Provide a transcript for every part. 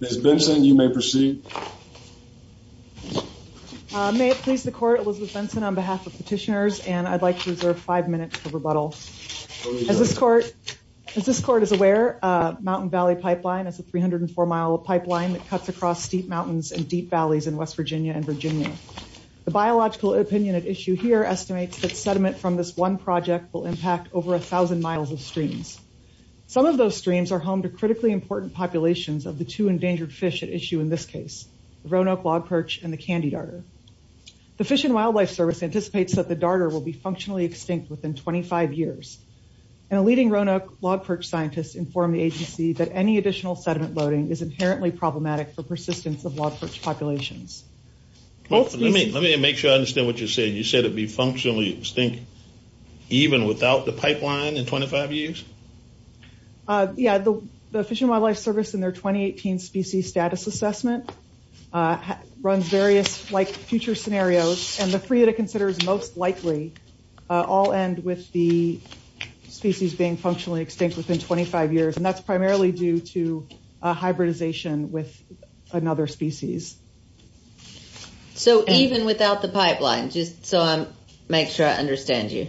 Ms. Benson you may proceed. May it please the court Elizabeth Benson on behalf of petitioners and I'd like to reserve five minutes for rebuttal. As this court as this court is aware Mountain Valley Pipeline is a 304 mile pipeline that cuts across steep mountains and deep valleys in West Virginia and Virginia. The biological opinion at issue here estimates that sediment from this one project will impact over a thousand miles of streams. Some of those streams are home to critically important populations of the two endangered fish at issue in this case the Roanoke log perch and the candy darter. The Fish and Wildlife Service anticipates that the darter will be functionally extinct within 25 years and a leading Roanoke log perch scientists inform the agency that any additional sediment loading is inherently problematic for persistence of log perch populations. Let me make sure I understand what you said you said be functionally extinct even without the pipeline in 25 years? Yeah the Fish and Wildlife Service in their 2018 species status assessment runs various like future scenarios and the three that it considers most likely all end with the species being functionally extinct within 25 years and that's primarily due to hybridization with another species. So even without the pipeline just so I'm make sure I understand you.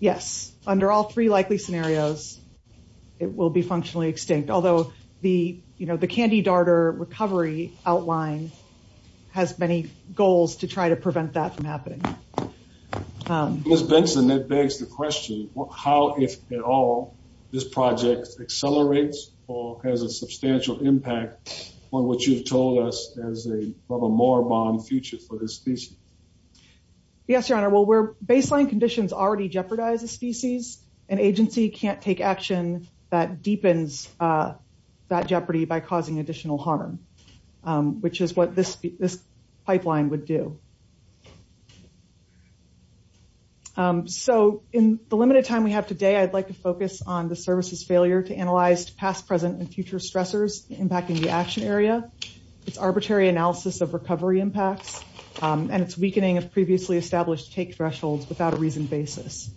Yes under all three likely scenarios it will be functionally extinct although the you know the candy darter recovery outline has many goals to try to prevent that from happening. Ms. Benson that begs the question how if at all this project accelerates or has a substantial impact on what you've told us as a more bond future for this species? Yes your honor well we're baseline conditions already jeopardize a species an agency can't take action that deepens that jeopardy by causing additional harm which is what this this pipeline would do. So in the limited time we have today I'd like to focus on the service's failure to analyze past present and future stressors impacting the action area, its arbitrary analysis of recovery impacts and its weakening of previously established take thresholds without a reason basis.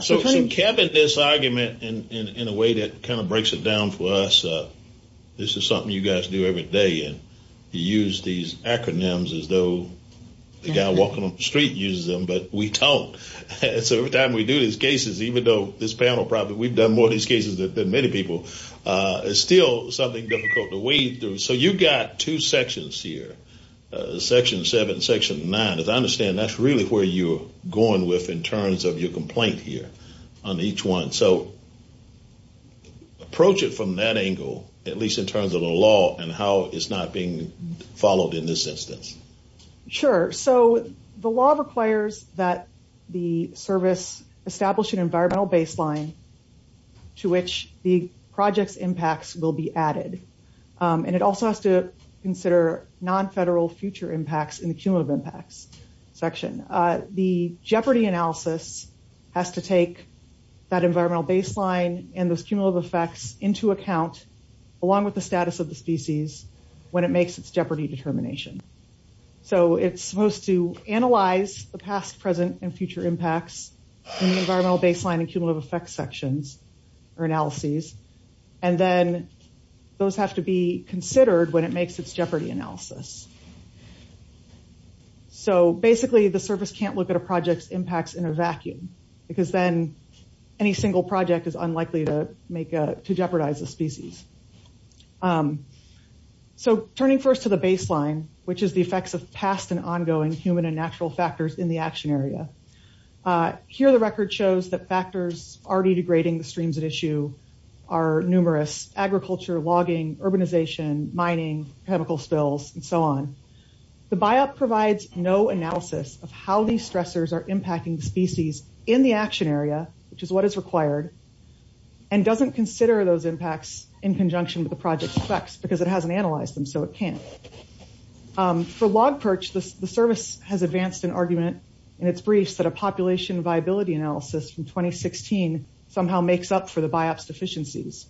So Kevin this argument in a way that kind of breaks it down for us this is something you guys do every day and you use these acronyms as though the guy walking up the street uses them but we don't. So every time we do these cases even though this panel probably we've done more these cases that many people it's still something difficult to wade through. So you got two sections here section 7 section 9 as I understand that's really where you're going with in terms of your complaint here on each one. So approach it from that angle at least in terms of the law and how it's not being followed in this instance. Sure so the law requires that the service establish an environmental baseline to which the project's impacts will be added and it also has to consider non-federal future impacts in the cumulative impacts section. The jeopardy analysis has to take that environmental baseline and those cumulative effects into account along with the status of the species when it makes its jeopardy determination. So it's supposed to analyze the past present and future impacts environmental baseline and cumulative effects sections or analyses and then those have to be considered when it makes its jeopardy analysis. So basically the service can't look at a project's impacts in a vacuum because then any single project is unlikely to make to jeopardize the species. So turning first to the baseline which is the effects of past and ongoing human and natural factors in the action area. Here the record shows that factors already degrading the streams at issue are numerous agriculture, logging, urbanization, mining, chemical spills and so on. The biop provides no analysis of how these stressors are impacting species in the action area which is what is required and doesn't consider those impacts in conjunction with the project effects because it hasn't analyzed them so it can't. For log perch the service has advanced an argument in its briefs that a population viability analysis from 2016 somehow makes up for the biop deficiencies.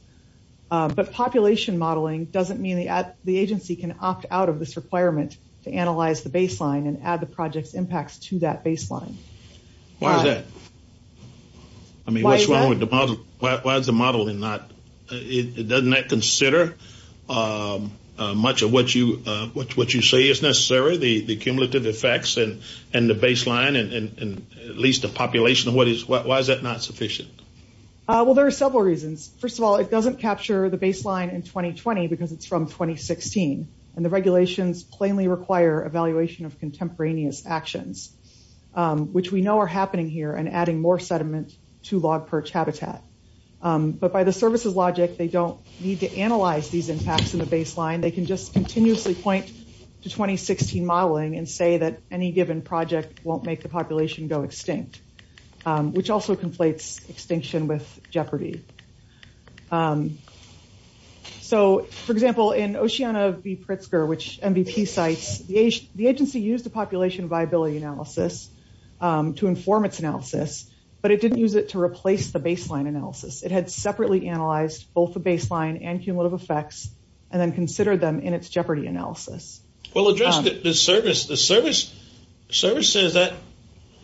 But population modeling doesn't mean the agency can opt out of this requirement to analyze the baseline and add the project's impacts to that baseline. Why is that? I mean why is the modeling not it doesn't that consider much of what you what you say is necessary the the cumulative effects and and the baseline and at least a population of what is what why is that not sufficient? Well there are several reasons. First of all it doesn't capture the baseline in 2020 because it's from 2016 and the regulations plainly require evaluation of contemporaneous actions which we know are happening here and adding more sediment to log perch habitat. But by the service's logic they don't need to analyze these impacts in the baseline they can just continuously point to 2016 modeling and say that any given project won't make the population go extinct. Which also conflates extinction with jeopardy. So for example in Oceana v. Pritzker which MVP cites the age the agency used the population viability analysis to inform its analysis but it didn't use it to replace the baseline analysis. It had separately analyzed both the baseline and cumulative effects and then considered them in its jeopardy analysis. Well address the service the service service says that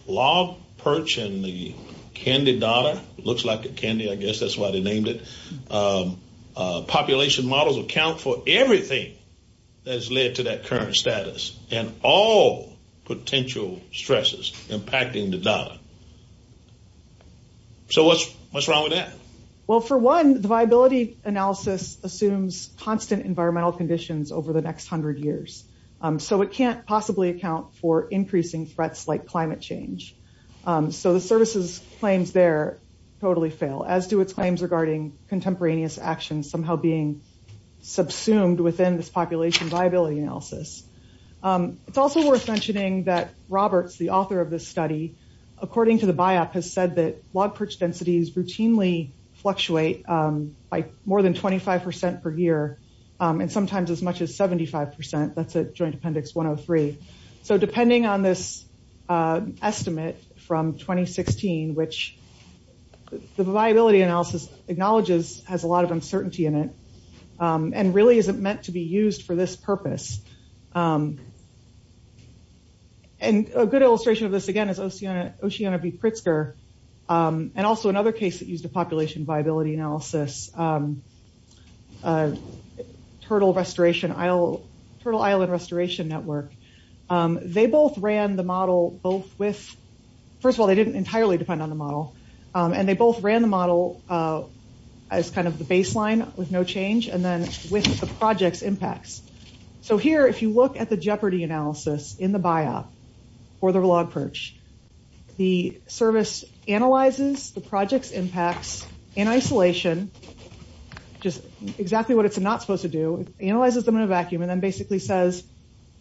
log perch and the candy dollar looks like a candy I guess that's why they named it. Population models account for everything that's led to that current status and all potential stresses impacting the dollar. So what's wrong with that? Well for one the viability analysis assumes constant environmental conditions over the next hundred years. So it can't possibly account for increasing threats like climate change. So the services claims there totally fail as do its claims regarding contemporaneous actions somehow being subsumed within this population viability analysis. It's also worth mentioning that Roberts the author of this study according to the biop has said that log perch densities routinely fluctuate by more than 25% per year and sometimes as much as 75% that's a joint appendix 103. So depending on this estimate from 2016 which the viability analysis acknowledges has a lot of uncertainty in it and really isn't meant to be used for this purpose. And a good and also another case that used a population viability analysis turtle restoration I'll turtle island restoration network they both ran the model both with first of all they didn't entirely depend on the model and they both ran the model as kind of the baseline with no change and then with the projects impacts. So here if you look at the jeopardy analysis in the biop or the service analyzes the projects impacts in isolation just exactly what it's not supposed to do analyzes them in a vacuum and then basically says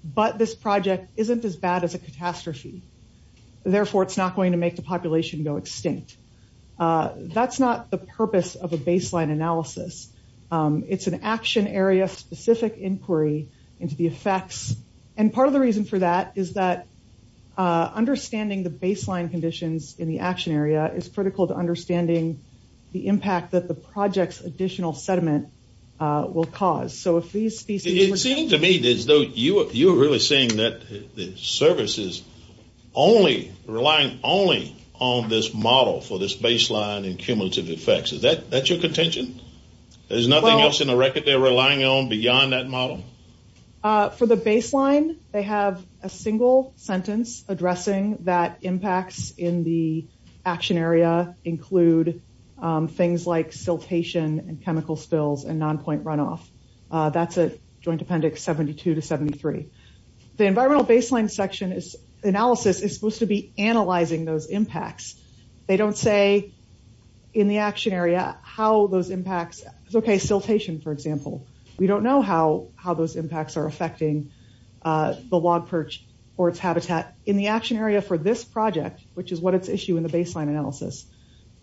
but this project isn't as bad as a catastrophe therefore it's not going to make the population go extinct. That's not the purpose of a baseline analysis it's an action area specific inquiry into the effects and part of the reason for that is that understanding the baseline conditions in the action area is critical to understanding the impact that the project's additional sediment will cause. So if these species. It seemed to me as though you were really saying that the service is only relying only on this model for this baseline and cumulative effects is that that's your contention? There's nothing else in the model? For the baseline they have a single sentence addressing that impacts in the action area include things like siltation and chemical spills and non-point runoff that's a joint appendix 72 to 73. The environmental baseline section is analysis is supposed to be analyzing those impacts they don't say in the action area how those impacts okay siltation for example we don't know how how those impacts are affecting the log perch or its habitat in the action area for this project which is what its issue in the baseline analysis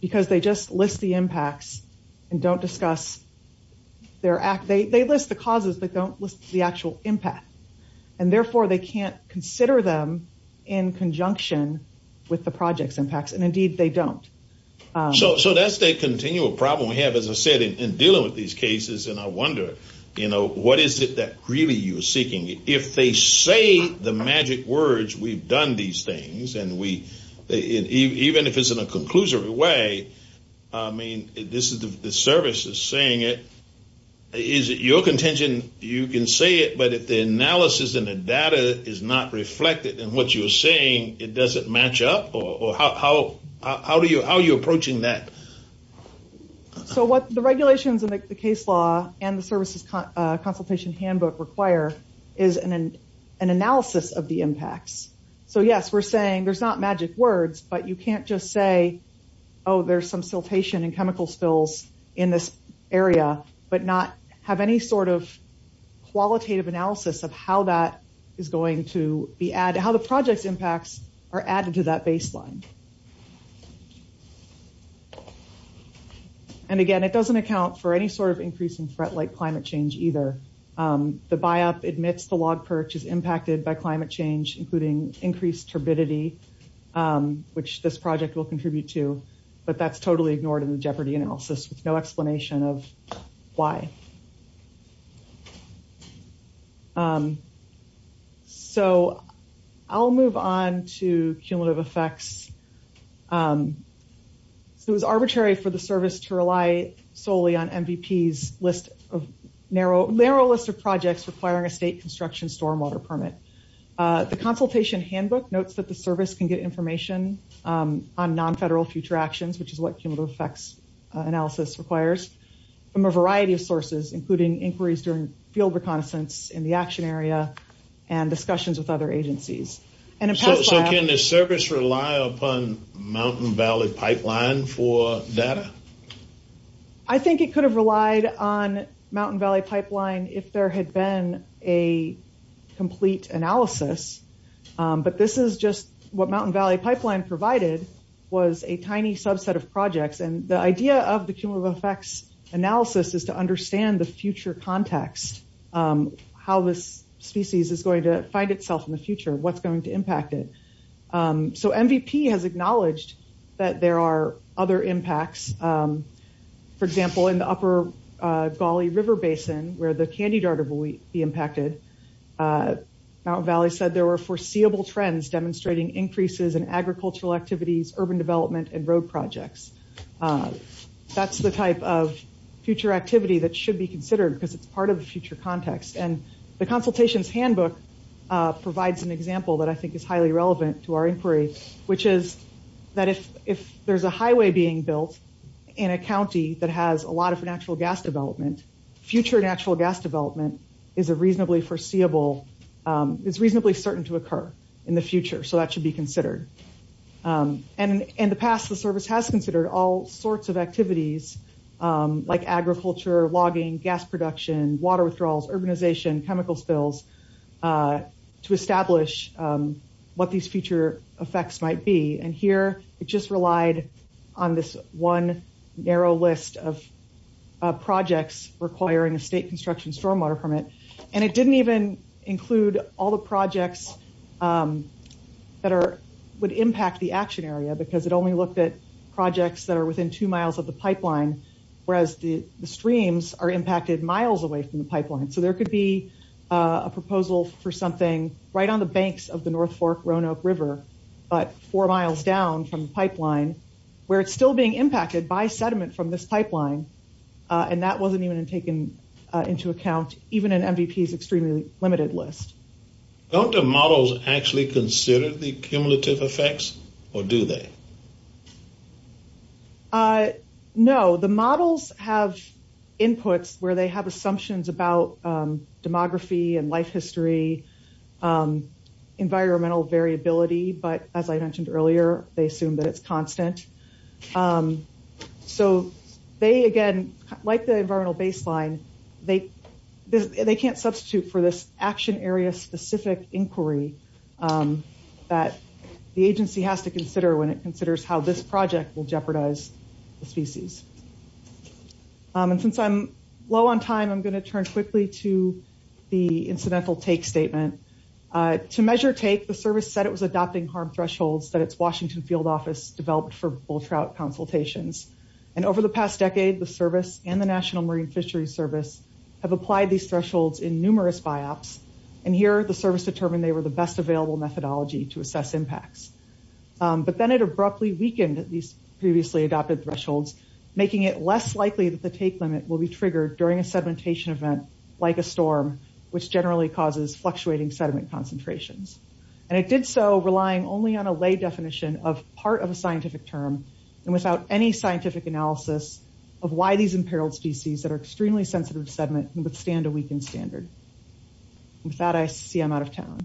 because they just list the impacts and don't discuss their act they list the causes but don't list the actual impact and therefore they can't consider them in conjunction with the projects impacts and indeed they don't. So that's the continual problem we have as I said in dealing with these cases and I wonder you know what is it that really you're seeking if they say the magic words we've done these things and we even if it's in a conclusive way I mean this is the service is saying it is it your contention you can say it but if the analysis and the data is not reflected and what you're saying it doesn't match up or how how do you how are you approaching that? So what the regulations and the case law and the services consultation handbook require is an analysis of the impacts so yes we're saying there's not magic words but you can't just say oh there's some siltation and chemical spills in this area but not have any sort of qualitative analysis of how that is going to be added how the impacts are going to be reflected or any sort of increase in threat like climate change either. The buy-up admits the log perch is impacted by climate change including increased turbidity which this project will contribute to but that's totally ignored in the jeopardy analysis with no explanation of why. So I'll move on to cumulative effects. It was arbitrary for the service to rely solely on MVP's list of narrow narrow list of projects requiring a state construction stormwater permit. The consultation handbook notes that the service can get information on non-federal future actions which is what cumulative effects analysis requires from a variety of sources including inquiries during field reconnaissance in the action area and discussions with other agencies. So can the service rely upon Mountain Valley pipeline for data? I think it could have relied on Mountain Valley pipeline if there had been a complete analysis but this is just what Mountain Valley pipeline provided was a tiny subset of projects and the idea of the cumulative effects analysis is to understand the future context how this species is going to find itself in the future what's going to impact it. So MVP has acknowledged that there are other impacts for example in the Upper Gauley River Basin where the candy darter will be impacted Mountain Valley said there were foreseeable trends demonstrating increases in agricultural activities urban development and road projects. That's the type of future activity that should be considered because it's part of the future context and the consultations handbook provides an example that I think is highly relevant to our inquiry which is that if if there's a highway being built in a county that has a lot of natural gas development future natural gas development is a reasonably foreseeable it's reasonably certain to occur in the future so that should be considered and in the past the service has considered all sorts of activities like agriculture, logging, gas production, water withdrawals, urbanization, chemical spills to establish what these future effects might be and here it just relied on this one narrow list of projects requiring a state construction stormwater permit and it didn't even include all the projects that are would impact the action area because it only looked at projects that are within two miles of the pipeline whereas the there could be a proposal for something right on the banks of the North Fork Roanoke River but four miles down from the pipeline where it's still being impacted by sediment from this pipeline and that wasn't even taken into account even in MVP's extremely limited list. Don't the models actually consider the cumulative effects or do they? No the models have inputs where they have input about demography and life history environmental variability but as I mentioned earlier they assume that it's constant so they again like the environmental baseline they can't substitute for this action area specific inquiry that the agency has to consider when it considers how this project will jeopardize the species and since I'm low on time I'm going to turn quickly to the incidental take statement. To measure take the service said it was adopting harm thresholds that it's Washington field office developed for bull trout consultations and over the past decade the service and the National Marine Fishery Service have applied these thresholds in numerous biops and here the service determined they were the best available methodology to assess impacts but then it abruptly weakened at these previously adopted thresholds making it less likely that the take limit will be triggered during a sedimentation event like a storm which generally causes fluctuating sediment concentrations and it did so relying only on a lay definition of part of a scientific term and without any scientific analysis of why these imperiled species that are extremely sensitive sediment can withstand a weakened standard. With that I see I'm out of town.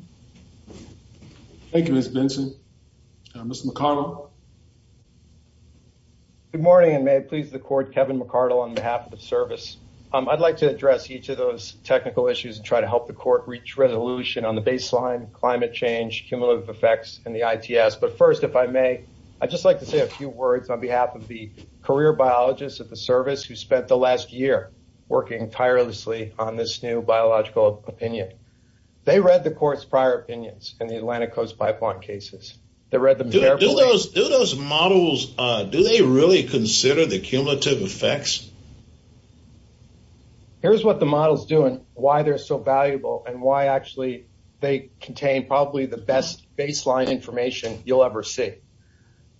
Thank you Ms. Benson. Mr. McConnell. Good morning and may it please the court Kevin McArdle on behalf of the I'd like to address each of those technical issues and try to help the court reach resolution on the baseline climate change cumulative effects and the ITS but first if I may I'd just like to say a few words on behalf of the career biologists at the service who spent the last year working tirelessly on this new biological opinion. They read the court's prior opinions in the Atlantic Coast pipeline cases. They read them. Do those models do they really consider the cumulative effects? Here's what the model is doing why they're so valuable and why actually they contain probably the best baseline information you'll ever see.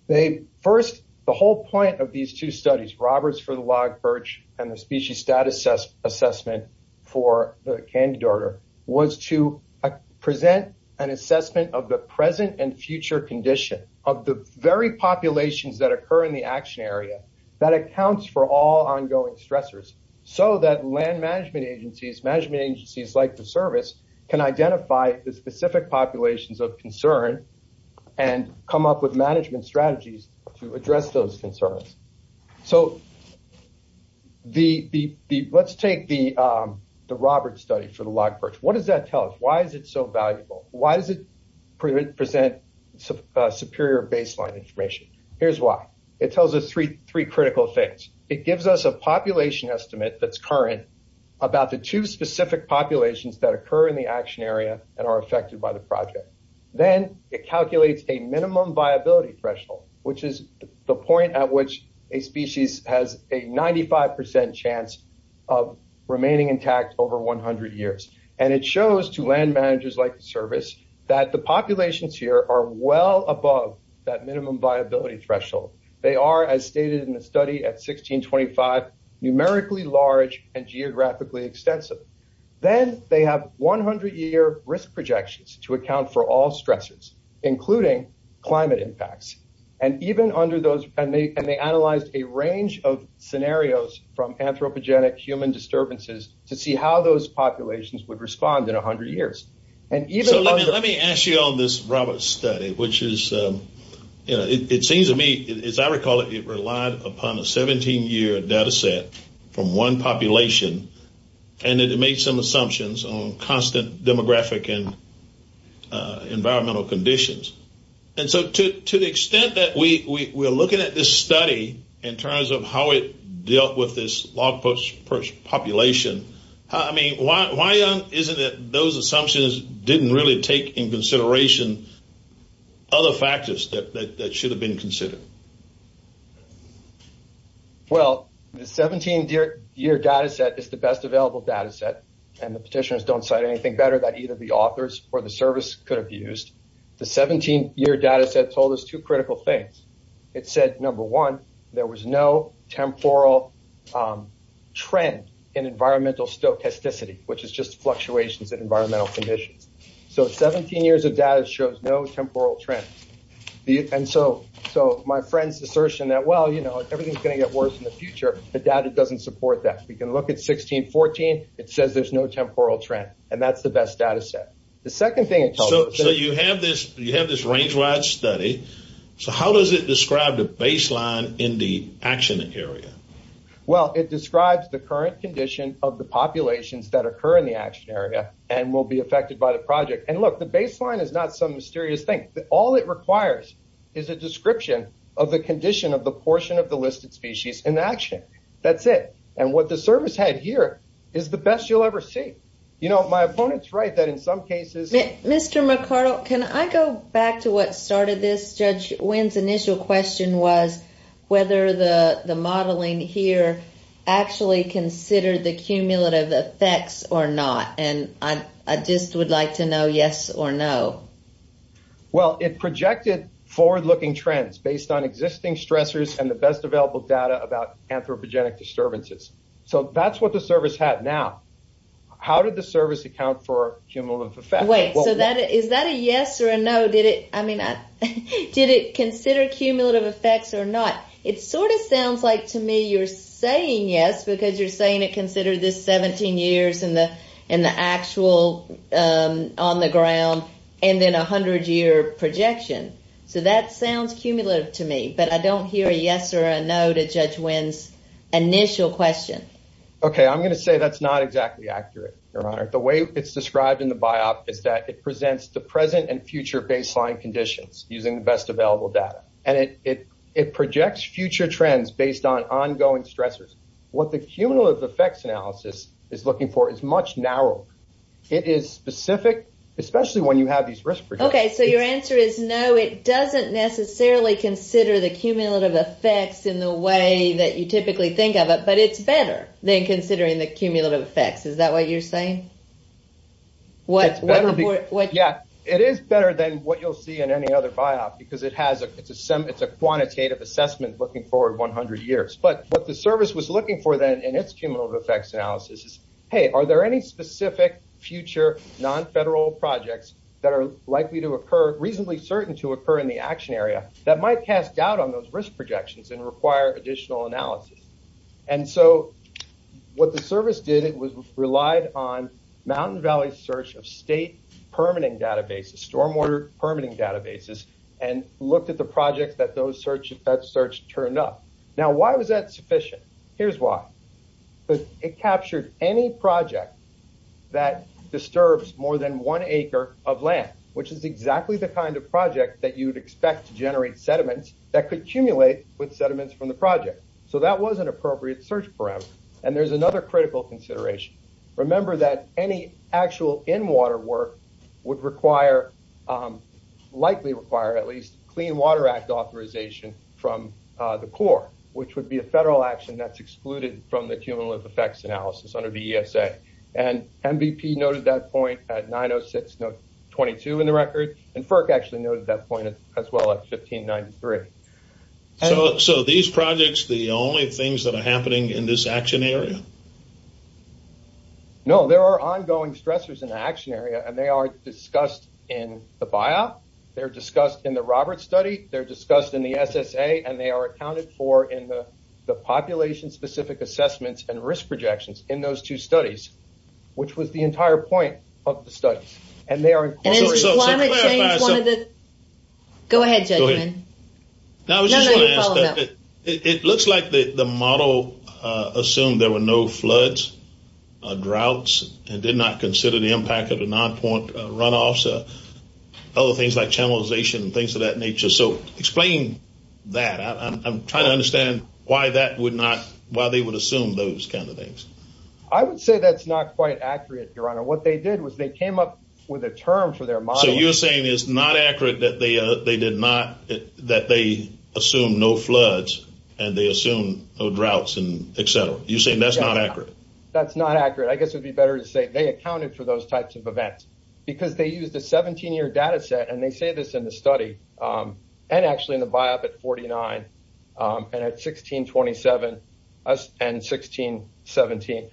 They first the whole point of these two studies Roberts for the log perch and the species status assessment for the candy daughter was to present an assessment of the present and future condition of the very populations that occur in the action area that accounts for all ongoing stressors so that land management agencies management agencies like the service can identify the specific populations of concern and come up with management strategies to address those concerns. So the let's take the the Roberts study for the log perch. What does that tell us? Why is it so valuable? Why does it present superior baseline information? Here's why. It tells us three three critical things. It gives us a population estimate that's current about the two specific populations that occur in the action area and are affected by the project. Then it calculates a minimum viability threshold which is the point at which a species has a 95% chance of remaining intact over 100 years and it shows to that minimum viability threshold. They are as stated in the study at 1625 numerically large and geographically extensive. Then they have 100 year risk projections to account for all stressors including climate impacts and even under those and they and they analyzed a range of scenarios from anthropogenic human disturbances to see how those populations would respond in a hundred years. Let me ask you on this Roberts study which is you know it seems to me as I recall it relied upon a 17 year data set from one population and it made some assumptions on constant demographic and environmental conditions and so to the extent that we were looking at this study in terms of how it dealt with this log perch population I mean why isn't it those assumptions didn't really take in consideration other factors that should have been considered? Well the 17 year data set is the best available data set and the petitioners don't cite anything better that either the authors or the service could have used. The 17 year data set told us two critical things. It said number one there was no temporal trend in environmental stochasticity which is just fluctuations in environmental conditions. So 17 years of data shows no temporal trend and so my friends assertion that well you know everything's going to get worse in the future the data doesn't support that. We can look at 1614 it says there's no temporal trend and that's the best data set. The second thing it tells us. So you have this range wide study so how does it describe the baseline in the action area? Well it describes the current condition of the action area and will be affected by the project and look the baseline is not some mysterious thing that all it requires is a description of the condition of the portion of the listed species in action. That's it and what the service had here is the best you'll ever see. You know my opponents right that in some cases. Mr. McArdle can I go back to what started this? Judge Wynn's initial question was whether the the modeling here actually considered the cumulative effects or not and I just would like to know yes or no. Well it projected forward-looking trends based on existing stressors and the best available data about anthropogenic disturbances. So that's what the service had now. How did the service account for cumulative effect? Wait so that is that a yes or a no? Did it I mean I did it consider cumulative effects or not? It sort of sounds like to me you're saying yes because you're saying it considered this 17 years in the in the actual on the ground and then a hundred year projection. So that sounds cumulative to me but I don't hear a yes or a no to Judge Wynn's initial question. Okay I'm gonna say that's not exactly accurate Your Honor. The way it's described in the biop is that it presents the present and future baseline conditions using the best available data and it it projects future trends based on ongoing stressors. What the cumulative effects analysis is looking for is much narrower. It is specific especially when you have these risk projections. Okay so your answer is no it doesn't necessarily consider the cumulative effects in the way that you typically think of it but it's better than considering the cumulative effects. Is that what you're saying? What yeah it is better than what you'll see in any other biop because it has a it's a quantitative assessment looking forward 100 years but what the service was looking for then in its cumulative effects analysis is hey are there any specific future non-federal projects that are likely to occur reasonably certain to occur in the action area that might cast doubt on those risk projections and require additional analysis. And so what the service did it was relied on Mountain Valley search of state permitting databases stormwater permitting databases and looked at the projects that those search that search turned up. Now why was that sufficient? Here's why but it captured any project that disturbs more than one acre of land which is exactly the kind of project that you'd expect to generate sediments that could accumulate with sediments from the project. So that was an appropriate search parameter and there's another critical consideration. Remember that any actual in water work would require likely require at least Clean Water Act authorization from the Corps which would be a federal action that's excluded from the cumulative effects analysis under the ESA and MVP noted that point at 906 note 22 in the record and FERC actually noted that point as well at 1593. So these projects the only things that are happening in this action area? No there are ongoing stressors in action area and they are discussed in the bio they're discussed in the Roberts study they're discussed in the SSA and they are accounted for in the the population specific assessments and risk projections in those two studies which was the entire point of the studies and they are. Go ahead. It looks like the model assumed there were no floods droughts and did not consider the impact of the non-point runoff so other things like channelization and things of that nature so explain that I'm trying to understand why that would not why they would assume those kind of things. I would say that's not quite accurate your honor what they did was they came up with a term for their model. So you're saying it's not accurate that they they did not that they assume no floods and they assume no droughts and etc. You're saying that's not accurate? That's not accurate I guess it'd be better to say they accounted for those types of events because they used a 17-year data set and they say this in the study and actually in the biop at 49 and at 1627 and 1617.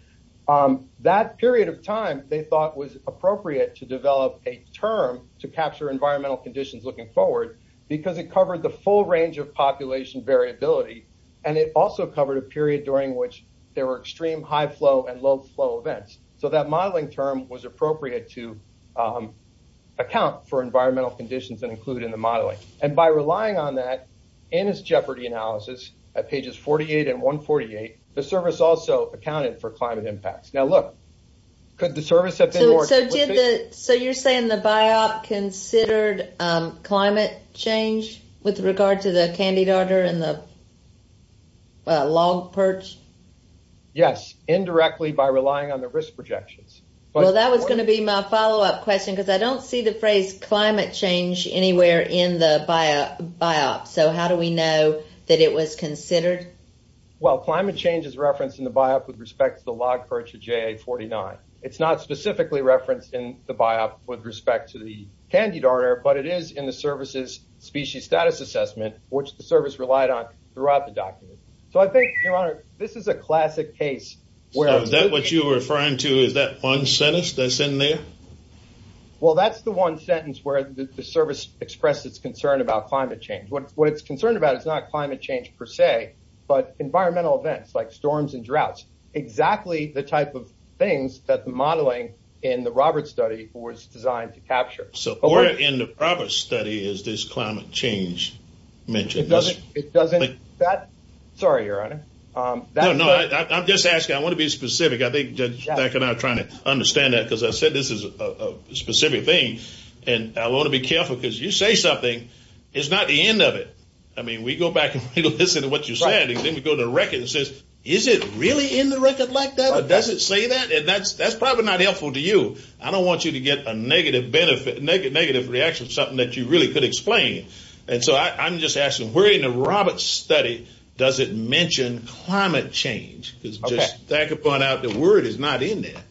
That period of time they thought was appropriate to develop a term to capture environmental conditions looking forward because it covered the full range of population variability and it also covered a period during which there were extreme high flow and low flow events so that modeling term was appropriate to account for environmental conditions and include in the modeling and by relying on that in his jeopardy analysis at pages 48 and 148 the service also accounted for climate impacts. Now look could the biop considered climate change with regard to the candy daughter and the log perch? Yes indirectly by relying on the risk projections. Well that was going to be my follow-up question because I don't see the phrase climate change anywhere in the biop so how do we know that it was considered? Well climate change is referenced in the biop with respect to the log perch of JA 49. It's not specifically referenced in the biop with respect to the candy daughter but it is in the services species status assessment which the service relied on throughout the document. So I think your honor this is a classic case where that what you were referring to is that one sentence that's in there? Well that's the one sentence where the service expressed its concern about climate change. What what it's concerned about is not climate change per se but environmental events like storms and droughts. Exactly the type of things that the modeling in the Roberts study was designed to capture. So where in the Roberts study is this climate change mentioned? It doesn't it doesn't that sorry your honor. No I'm just asking I want to be specific I think that I cannot trying to understand that because I said this is a specific thing and I want to be careful because you say something it's not the end of it. I mean we go back and listen to what you're saying and then we go to the record and says is it really in the record like that or does it say that and that's that's probably not helpful to you. I don't want you to get a negative benefit negative negative reaction something that you really could explain and so I'm just asking where in the Roberts study does it mention climate change? Because I could point out the word is not in there.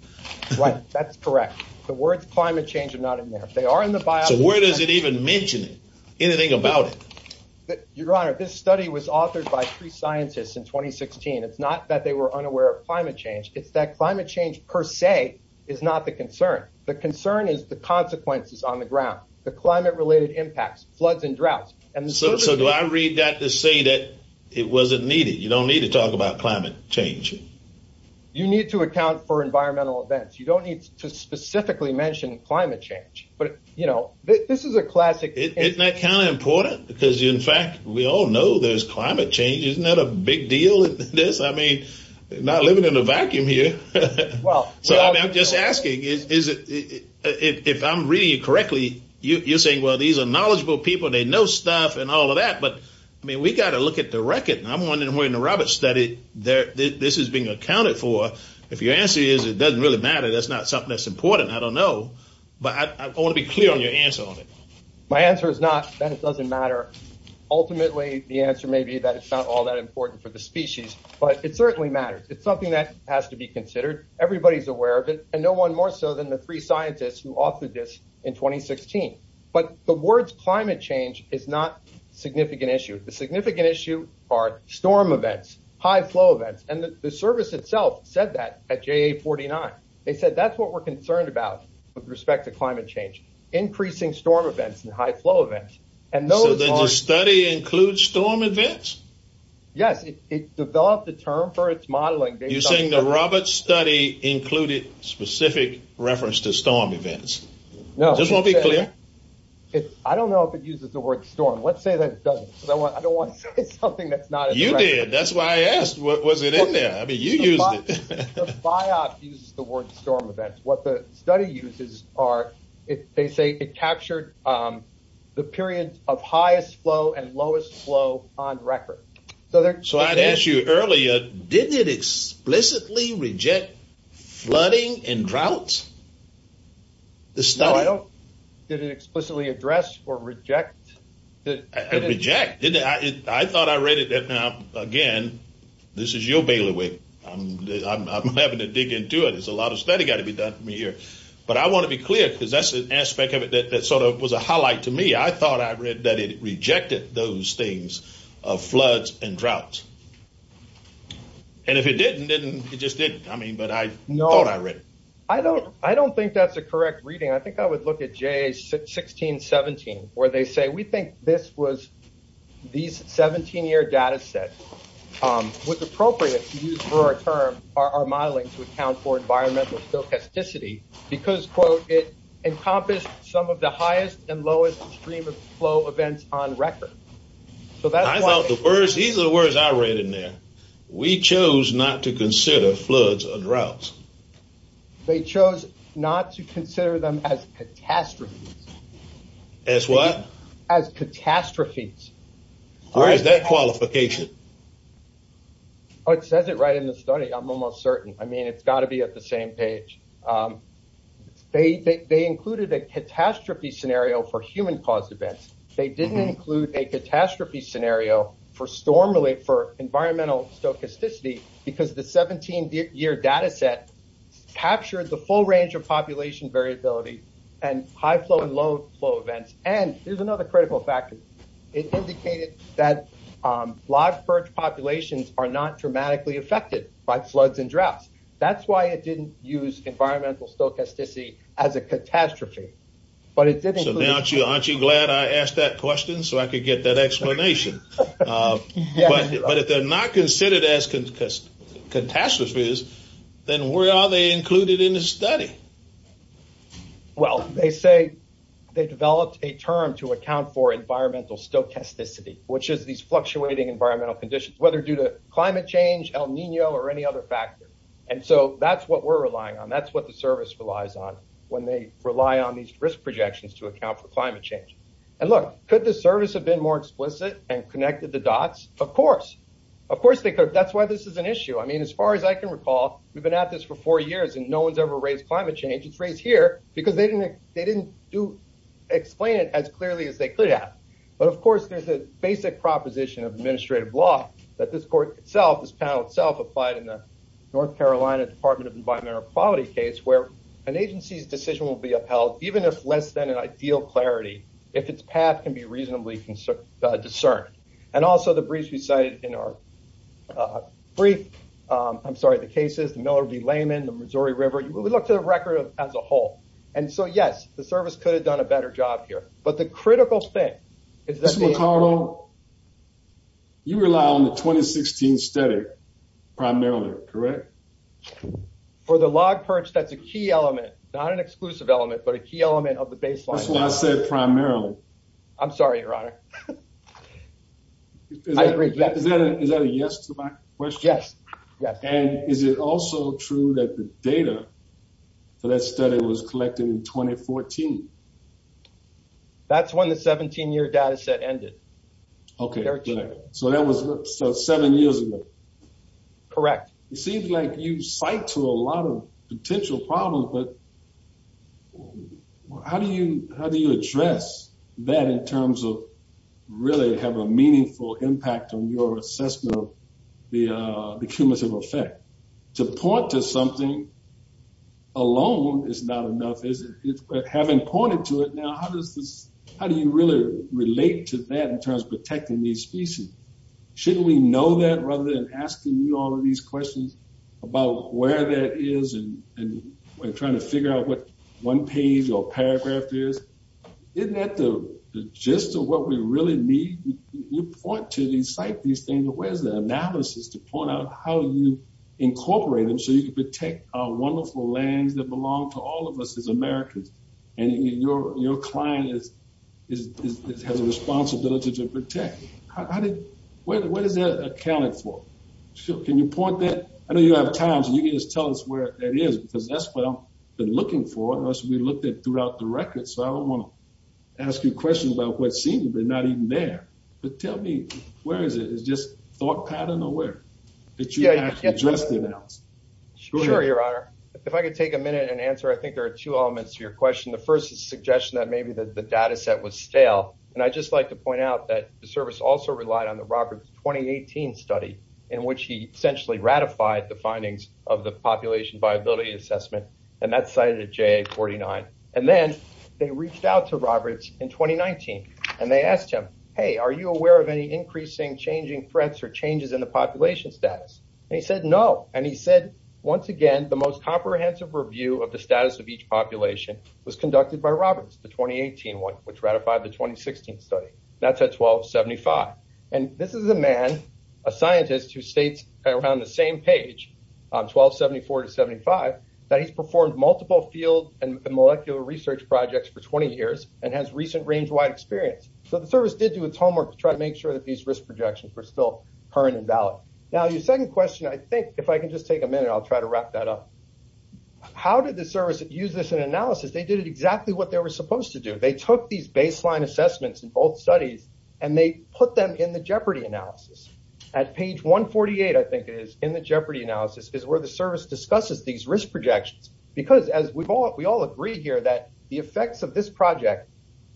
Right that's correct. The words climate change are not in there. They are in the biop. So where does it even mention it? Anything about it? Your scientists in 2016 it's not that they were unaware of climate change it's that climate change per se is not the concern. The concern is the consequences on the ground. The climate related impacts floods and droughts. And so do I read that to say that it wasn't needed. You don't need to talk about climate change. You need to account for environmental events. You don't need to specifically mention climate change but you know this is a classic. Isn't that kind of change? Isn't that a big deal? This I mean not living in a vacuum here. Well I'm just asking is it if I'm reading correctly you're saying well these are knowledgeable people they know stuff and all of that but I mean we got to look at the record. I'm wondering where in the Roberts study there this is being accounted for. If your answer is it doesn't really matter that's not something that's important. I don't know but I want to be clear on your answer on it. My answer is not that it doesn't matter. Ultimately the answer may be that it's not all that important for the species but it certainly matters. It's something that has to be considered. Everybody's aware of it and no one more so than the three scientists who authored this in 2016. But the words climate change is not significant issue. The significant issue are storm events, high flow events and the service itself said that at JA 49. They said that's what we're concerned about with respect to climate change. Increasing storm events and high flow events. So the study includes storm events? Yes it developed the term for its modeling. You're saying the Roberts study included specific reference to storm events? No. I don't know if it uses the word storm. Let's say that it doesn't. I don't want to say something that's not. You did that's why I asked what was it in there. I mean you used it. The biop uses the word storm events. What the period of highest flow and lowest flow on record. So I'd ask you earlier did it explicitly reject flooding and droughts? The style? Did it explicitly address or reject? I thought I read it that now again this is your bailiwick. I'm having to dig into it. There's a lot of study got to be done for me here. But I want to be clear because that's an aspect of it that sort of was a highlight to me. I thought I read that it rejected those things of floods and droughts. And if it didn't then it just didn't. I mean but I know I read it. I don't I don't think that's a correct reading. I think I would look at J1617 where they say we think this was these 17 year data set was appropriate to use for our term our modeling to account for environmental stochasticity. Because quote it encompassed some of the highest and lowest stream of flow events on record. So that's what I thought the first these are the words I read in there. We chose not to consider floods or droughts. They chose not to consider them as catastrophes. As what? As catastrophes. Where is that qualification? It says it right in the study I'm almost certain. I think it's in page. They they included a catastrophe scenario for human caused events. They didn't include a catastrophe scenario for storm relief for environmental stochasticity because the 17 year data set captured the full range of population variability and high flow and low flow events. And there's another critical factor. It indicated that live birch populations are not dramatically affected by floods and droughts. That's why it didn't use environmental stochasticity as a catastrophe. But it didn't. So now aren't you glad I asked that question so I could get that explanation. But if they're not considered as catastrophes then where are they included in the study? Well they say they developed a term to account for environmental stochasticity which is these fluctuating environmental conditions. Whether due to climate change El Nino or any other factor. And so that's what we're relying on. That's what the service relies on when they rely on these risk projections to account for climate change. And look could the service have been more explicit and connected the dots? Of course. Of course they could. That's why this is an issue. I mean as far as I can recall we've been at this for four years and no one's ever raised climate change. It's raised here because they didn't they didn't do explain it as clearly as they could have. But of course there's a basic proposition of administrative law that this court itself, this panel itself applied in the North Carolina Department of Environmental Quality case where an agency's decision will be upheld even if less than an ideal clarity if its path can be reasonably discerned. And also the briefs we cited in our brief, I'm sorry the cases, the Miller v. Layman, the Missouri River, we look to the record as a whole. And so yes the service could have done a better job here. But the critical thing is that you rely on the 2016 study primarily correct for the log perch. That's a key element, not an exclusive element, but a key element of the baseline. That's what I said. Primarily. I'm sorry, Your Honor. I agree. Is that a yes to my question? Yes. And is it also true that the data for that study was collected in 2014? That's when the 17 year data set ended. Okay. So that was seven years ago. Correct. It seems like you cite to a lot of potential problems. But how do you how do you address that in terms of really have a meaningful impact on your assessment of the cumulative effect to point to something alone is not enough. Is it having pointed to it now? How does this? How do you really relate to that in terms of protecting these species? Shouldn't we know that rather than asking you all of these questions about where that is and trying to figure out what one page or paragraph is? Isn't that the gist of what we really need? You point to these site, these things. Where's the analysis to point out how you incorporate them so you could protect our wonderful lands that belong to all of us is Americans. And your your client is has a responsibility to protect. How did what is that accounting for? Can you point that? I know you have time. So you can just tell us where it is, because that's what I've been looking for us. We looked at throughout the record, so I don't want to ask you questions about what seems to be not even there. But tell me where is it? It's just thought pattern aware that you just announced. Sure, Your Honor, if I could take a minute and answer, I think there are two elements to your question. The first is suggestion that maybe the data set was stale, and I just like to point out that the service also relied on the Roberts 2018 study in which he essentially ratified the findings of the population viability assessment, and that cited a J 49. And then they reached out to Roberts in 2019, and they asked him, Hey, are you aware of any increasing changing threats or changes in the population status? He said no. And he said once again, the most comprehensive review of the status of each population was conducted by Roberts. The 2018 one, which ratified the 2016 study. That's a 12 75. And this is a man, a scientist who states around the same page 12 74 to 75 that he's performed multiple field and molecular research projects for 20 years and has recent range wide experience. So the service did do its homework to try to make sure that these risk projections were still current and valid. Now, your second question, I think if I could just take a minute, I'll try to wrap that up. How did the service use this in analysis? They did it exactly what they were supposed to do. They took these baseline assessments in both studies, and they put them in the jeopardy analysis at page 1 48. I think it is in the jeopardy analysis is where the service discusses these risk projections. Because as we've all we all agree here that the effects of this project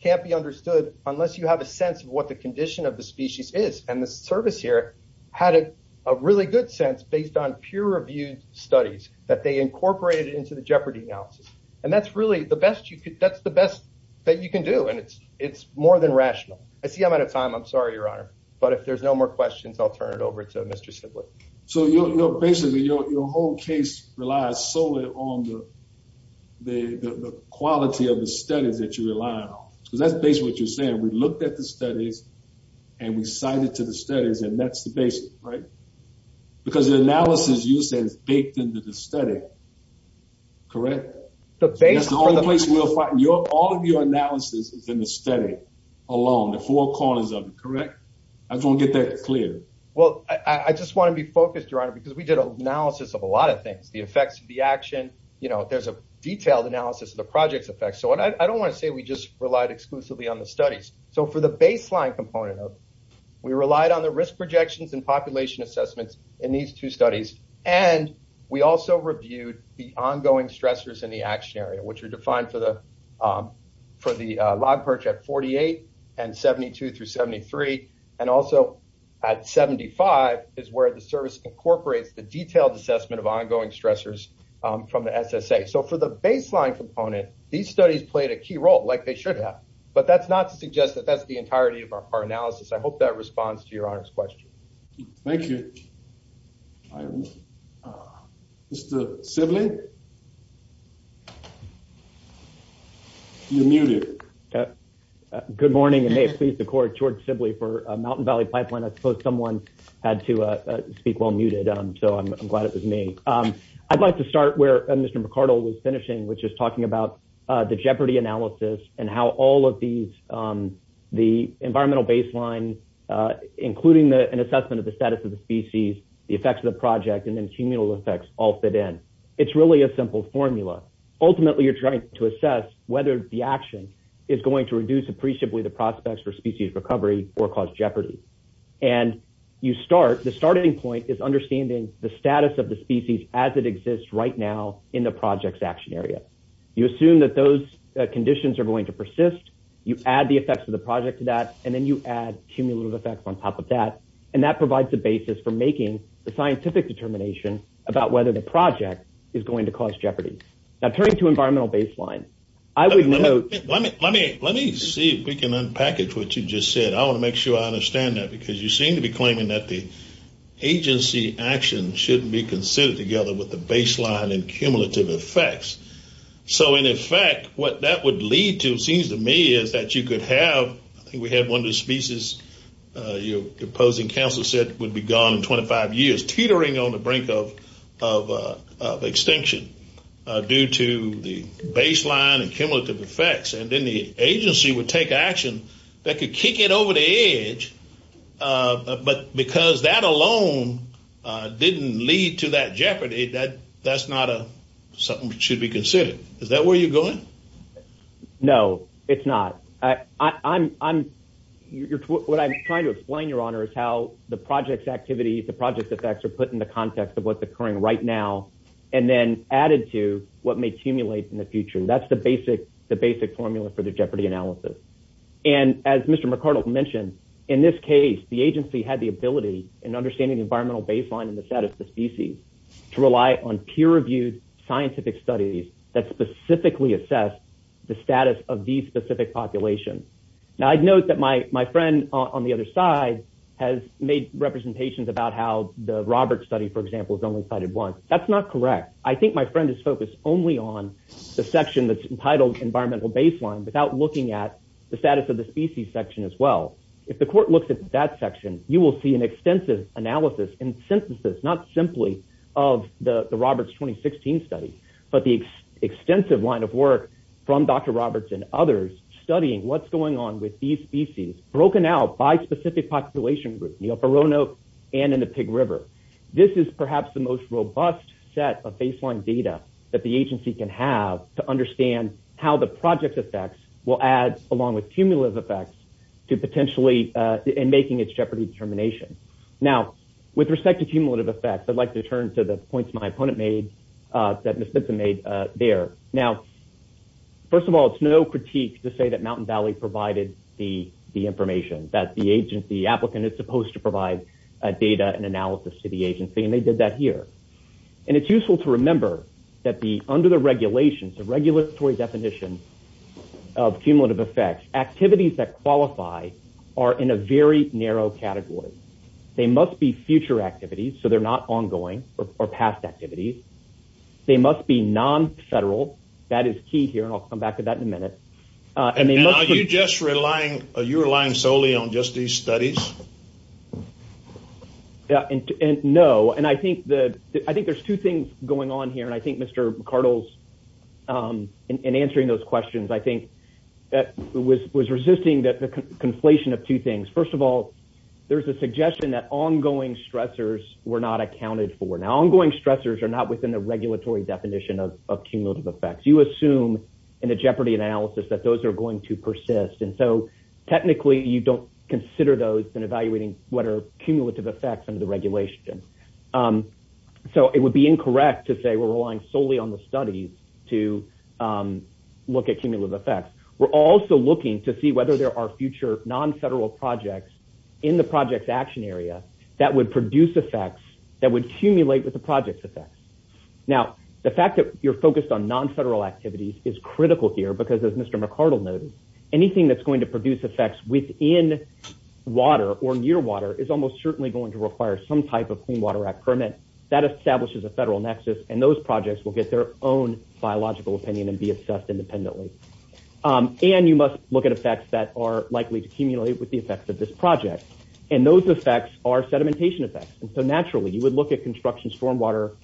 can't be understood unless you have a sense of what the condition of the species is. And the service here had a really good sense based on peer reviewed studies that they incorporated into the jeopardy analysis. And that's really the best you could. That's the best that you can do. And it's it's more than rational. I see I'm out of time. I'm sorry, Your Honor. But if there's no more questions, I'll turn it over to So, you know, basically, your whole case relies solely on the the quality of the studies that you rely on, because that's basically what you're saying. We looked at the studies and we cited to the studies, and that's the basis, right? Because the analysis, you say, is baked into the study. Correct. The face of the place will find your all of your analysis is in the study alone. The four corners of correct. I don't get that clear. Well, I just want to be focused around because we did analysis of a lot of things. The effects of the action. You know, there's a detailed analysis of the project's effects. So I don't want to say we just relied exclusively on the studies. So for the baseline component of we relied on the risk projections and population assessments in these two studies, and we also reviewed the ongoing stressors in the action area, which are defined for the for the log perch at 48 and 72 through 73 and also at 75 is where the service incorporates the detailed assessment of ongoing stressors from the SSA. So for the baseline component, these studies played a key role like they should have. But that's not to suggest that that's the entirety of our analysis. I hope that responds to your honor's question. Thank you. Mr Sibling. You're muted. Good morning. And they pleased the court towards simply for Mountain Valley pipeline. I suppose someone had to speak while muted. So I'm glad it was me. Um, I'd like to start where Mr McCardle was finishing, which is talking about the jeopardy analysis and how all of these, um, the environmental baseline, uh, including an assessment of the status of the species, the effects of the project and then communal effects all fit in. It's you're trying to assess whether the action is going to reduce appreciably the prospects for species recovery or cause jeopardy. And you start. The starting point is understanding the status of the species as it exists right now in the project's action area. You assume that those conditions are going to persist. You add the effects of the project to that, and then you add cumulative effects on top of that. And that provides the basis for making the scientific determination about whether the project is going to cause jeopardy. Now, turning to environmental baseline, I would know. Let me let me let me see if we can unpackage what you just said. I want to make sure I understand that because you seem to be claiming that the agency action shouldn't be considered together with the baseline and cumulative effects. So, in effect, what that would lead to seems to me is that you could have. We had one of the species. Uh, you're opposing Council said would be gone in 25 years, teetering on the brink of of extinction due to the baseline and cumulative effects. And then the agency would take action that could kick it over the edge. Uh, but because that alone didn't lead to that jeopardy that that's not a something should be considered. Is that where you're going? No, it's not. I'm I'm you're what I'm trying to explain. Your honor is how the project's activities, the project's effects are put in the context of what's occurring right now and then added to what may accumulate in the future. That's the basic the basic formula for the jeopardy analysis. And as Mr McArdle mentioned in this case, the agency had the ability and understanding environmental baseline in the status of species to rely on peer reviewed scientific studies that specifically assess the status of these specific population. Now, I'd note that my friend on the other side has made representations about how the Roberts study, for example, is only cited once. That's not correct. I think my friend is focused only on the section that's entitled environmental baseline without looking at the status of the species section as well. If the court looks at that section, you will see an extensive analysis and synthesis, not simply off the Roberts 2016 study, but the extensive line of work from Dr Roberts and others studying what's going on with these species broken out by specific population group, you know, for Roanoke and in the Pig River. This is perhaps the most robust set of baseline data that the agency can have to understand how the project effects will add along with cumulative effects to potentially in making its jeopardy determination. Now, with respect to cumulative effects, I'd like to turn to the points my opponent made that first of all, it's no critique to say that Mountain Valley provided the information that the agent, the applicant is supposed to provide data and analysis to the agency, and they did that here. And it's useful to remember that the under the regulations of regulatory definition of cumulative effects activities that qualify are in a very narrow category. They must be future activities, so they're not ongoing or past activities. They must be non-federal. That is key here, and I'll come back to that in a minute. And are you just relying, are you relying solely on just these studies? Yeah, and no. And I think the, I think there's two things going on here. And I think Mr. McArdle's, in answering those questions, I think that was resisting that the conflation of two things. First of all, there's a suggestion that ongoing stressors were not accounted for. Now, ongoing stressors are not within the regulatory definition of cumulative effects. You assume in a jeopardy analysis that those are going to persist. And so technically you don't consider those in evaluating what are cumulative effects under the regulation. So it would be incorrect to say we're relying solely on the studies to look at cumulative effects. We're also looking to see whether there are future non-federal projects in the project's action area that would produce effects that would cumulate with the project's effects. Now, the fact that you're focused on non-federal activities is critical here, because as Mr. McArdle noted, anything that's going to produce effects within water or near water is almost certainly going to require some type of Clean Water Act permit that establishes a federal nexus. And those projects will get their own biological opinion and be assessed independently. And you must look at effects that are likely to cumulate with the effects of this project. And those effects are sedimentation effects. And so naturally, you would look at construction stormwater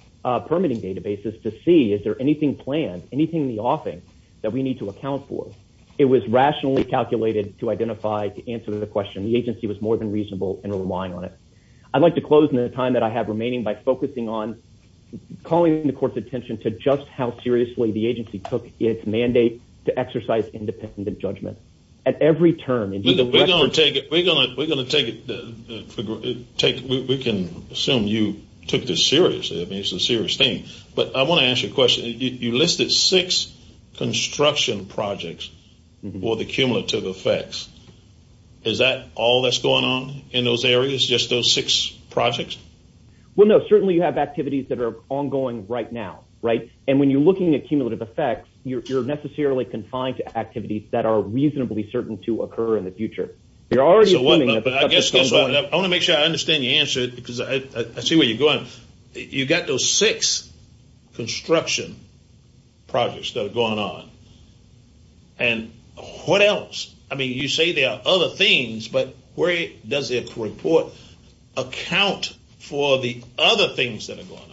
permitting databases to see, is there anything planned, anything in the offing that we need to account for? It was rationally calculated to identify, to answer the question. The agency was more than reasonable in relying on it. I'd like to close in the time that I have remaining by focusing on calling the court's attention to just how seriously the agency took its mandate to exercise independent judgment. At every term in the record. We're going to take it. We can assume you took this seriously. I mean, it's a serious thing. But I want to ask you a question. You listed six construction projects with accumulative effects. Is that all that's going on in those areas, just those six projects? Well, no, certainly you have activities that are ongoing right now, right? And when you're looking at cumulative effects, you're necessarily confined to the future. You're already assuming that. But I guess I want to make sure I understand you answer it because I see where you're going. You got those six construction projects that are going on. And what else? I mean, you say there are other things, but where does it report account for the other things that are going on?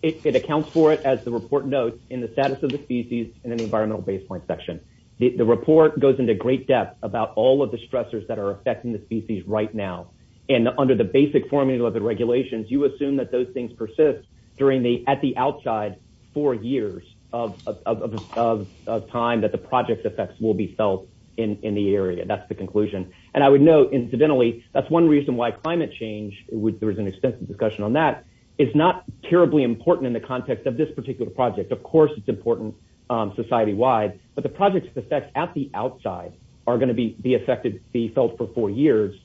It accounts for it as the report notes in the status of the species in an environmental baseline section. The report goes into great depth about all of the stressors that are affecting the species right now. And under the basic formula of the regulations, you assume that those things persist during the at the outside four years of time that the project's effects will be felt in the area. That's the conclusion. And I would note, incidentally, that's one reason why climate change, which there is an extensive discussion on that, is not terribly important in the context of this particular project. Of course, it's important society wide, but the project's effects at the outside are be felt for four years.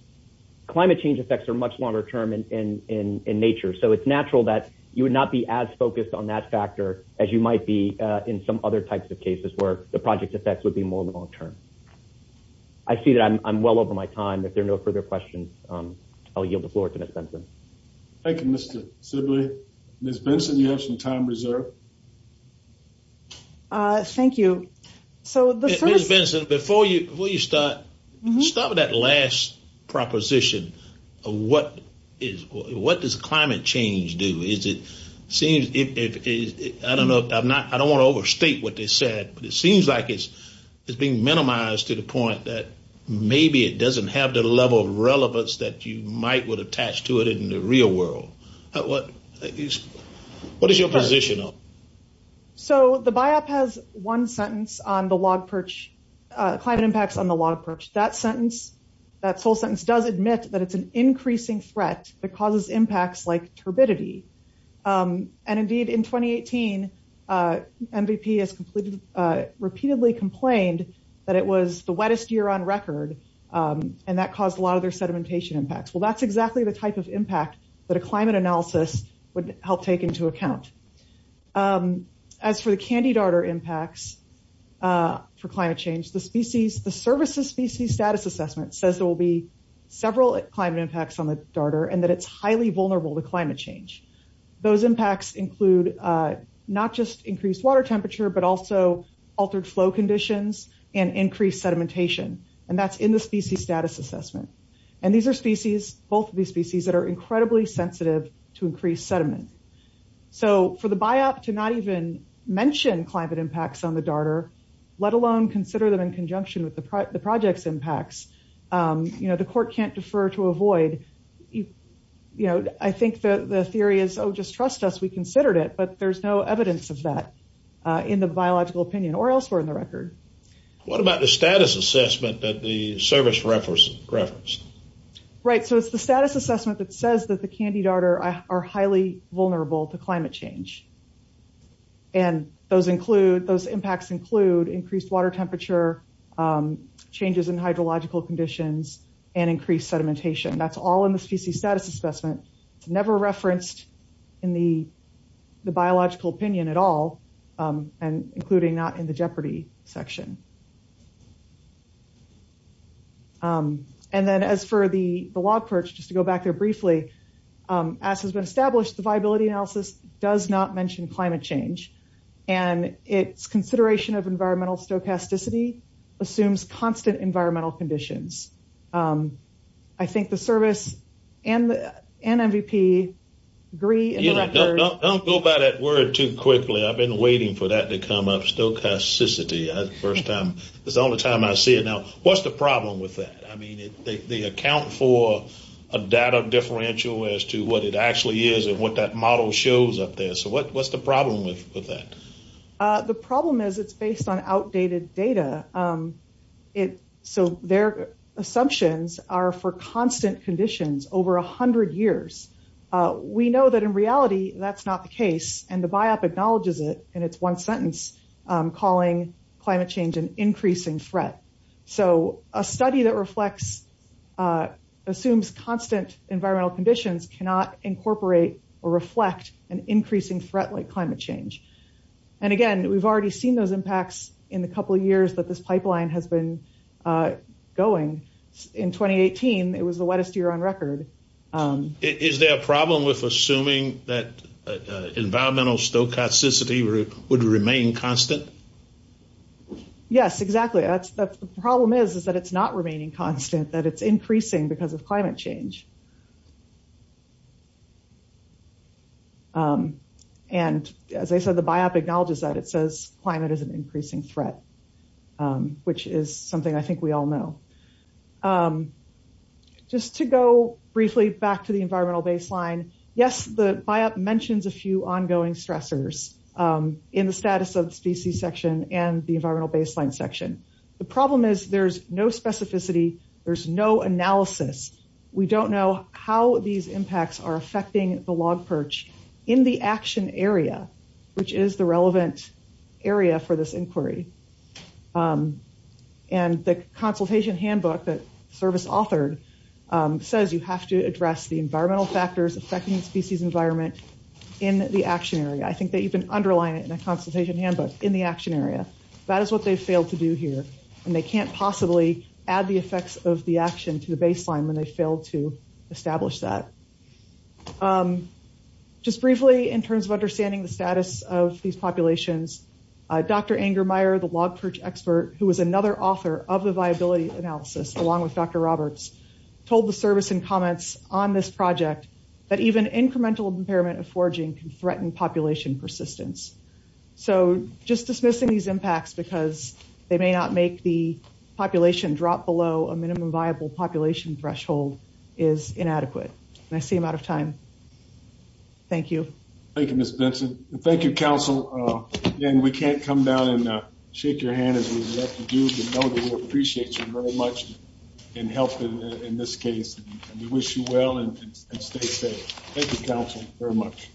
Climate change effects are much longer term in nature. So it's natural that you would not be as focused on that factor as you might be in some other types of cases where the project's effects would be more long term. I see that I'm well over my time. If there are no further questions, I'll yield the floor to Ms. Benson. Thank you, Mr. Sibley. Ms. Benson, you have some time reserved. Thank you. Ms. Benson, before you start, start with that last proposition of what does climate change do? I don't want to overstate what they said, but it seems like it's being minimized to the point that maybe it doesn't have the level of relevance that you might would attach to it in the real world. What is your position on that? So the Biop has one sentence on the log perch, climate impacts on the log perch. That sentence, that sole sentence does admit that it's an increasing threat that causes impacts like turbidity. And indeed, in 2018, MVP has repeatedly complained that it was the wettest year on record, and that caused a lot of their sedimentation impacts. Well, that's exactly the type of impact that a climate analysis would help take into account. As for the candy darter impacts for climate change, the species, the services species status assessment says there will be several climate impacts on the darter and that it's highly vulnerable to climate change. Those impacts include not just increased water temperature, but also altered flow conditions and increased sedimentation. And that's in the species status assessment. And these are species, both of these species that are incredibly sensitive to increased sediment. So for the Biop to not even mention climate impacts on the darter, let alone consider them in conjunction with the project's impacts, you know, the court can't defer to avoid, you know, I think the theory is, oh, just trust us, we considered it, but there's no evidence of that in the biological opinion or elsewhere in the record. What about the service reference? Right, so it's the status assessment that says that the candy darter are highly vulnerable to climate change. And those include those impacts include increased water temperature, changes in hydrological conditions, and increased sedimentation. That's all in the species status assessment. It's never referenced in the biological opinion at all, and including not in the jeopardy section. And then as for the log perch, just to go back there briefly, as has been established, the viability analysis does not mention climate change. And it's consideration of environmental stochasticity assumes constant environmental conditions. I think the service and the NMVP agree. Don't go by that word too quickly. I've been waiting for that to come up stochasticity. It's the only time I see it. Now, what's the problem with that? I mean, they account for a data differential as to what it actually is and what that model shows up there. So what's the problem with that? The problem is it's based on outdated data. So their assumptions are for constant conditions over 100 years. We know that in reality, that's not the calling climate change an increasing threat. So a study that reflects assumes constant environmental conditions cannot incorporate or reflect an increasing threat like climate change. And again, we've already seen those impacts in the couple of years that this pipeline has been going. In 2018, it was the wettest year on record. Is there a problem with assuming that environmental stochasticity would remain constant? Yes, exactly. That's the problem is, is that it's not remaining constant, that it's increasing because of climate change. And as I said, the Biop acknowledges that it says climate is an increasing threat, which is something I think we all know. Just to go briefly back to the environmental baseline. Yes, the Biop mentions a few ongoing stressors in the status of the species section and the environmental baseline section. The problem is there's no specificity, there's no analysis. We don't know how these impacts are affecting the log perch in the action area, which is the relevant area for this inquiry. And the consultation handbook that service authored says you have to address the in the action area. I think they even underline it in a consultation handbook in the action area. That is what they failed to do here. And they can't possibly add the effects of the action to the baseline when they failed to establish that. Just briefly, in terms of understanding the status of these populations, Dr. Ingermeyer, the log perch expert, who was another author of the viability analysis, along with Dr. Roberts, told the service and comments on this forging can threaten population persistence. So just dismissing these impacts because they may not make the population drop below a minimum viable population threshold is inadequate. And I seem out of time. Thank you. Thank you, Ms. Benson. Thank you, Council. Again, we can't come down and shake your hand as we would like to do, but know that we appreciate you very much and help in this case. And we wish you well and stay safe. Thank you, Council, very much.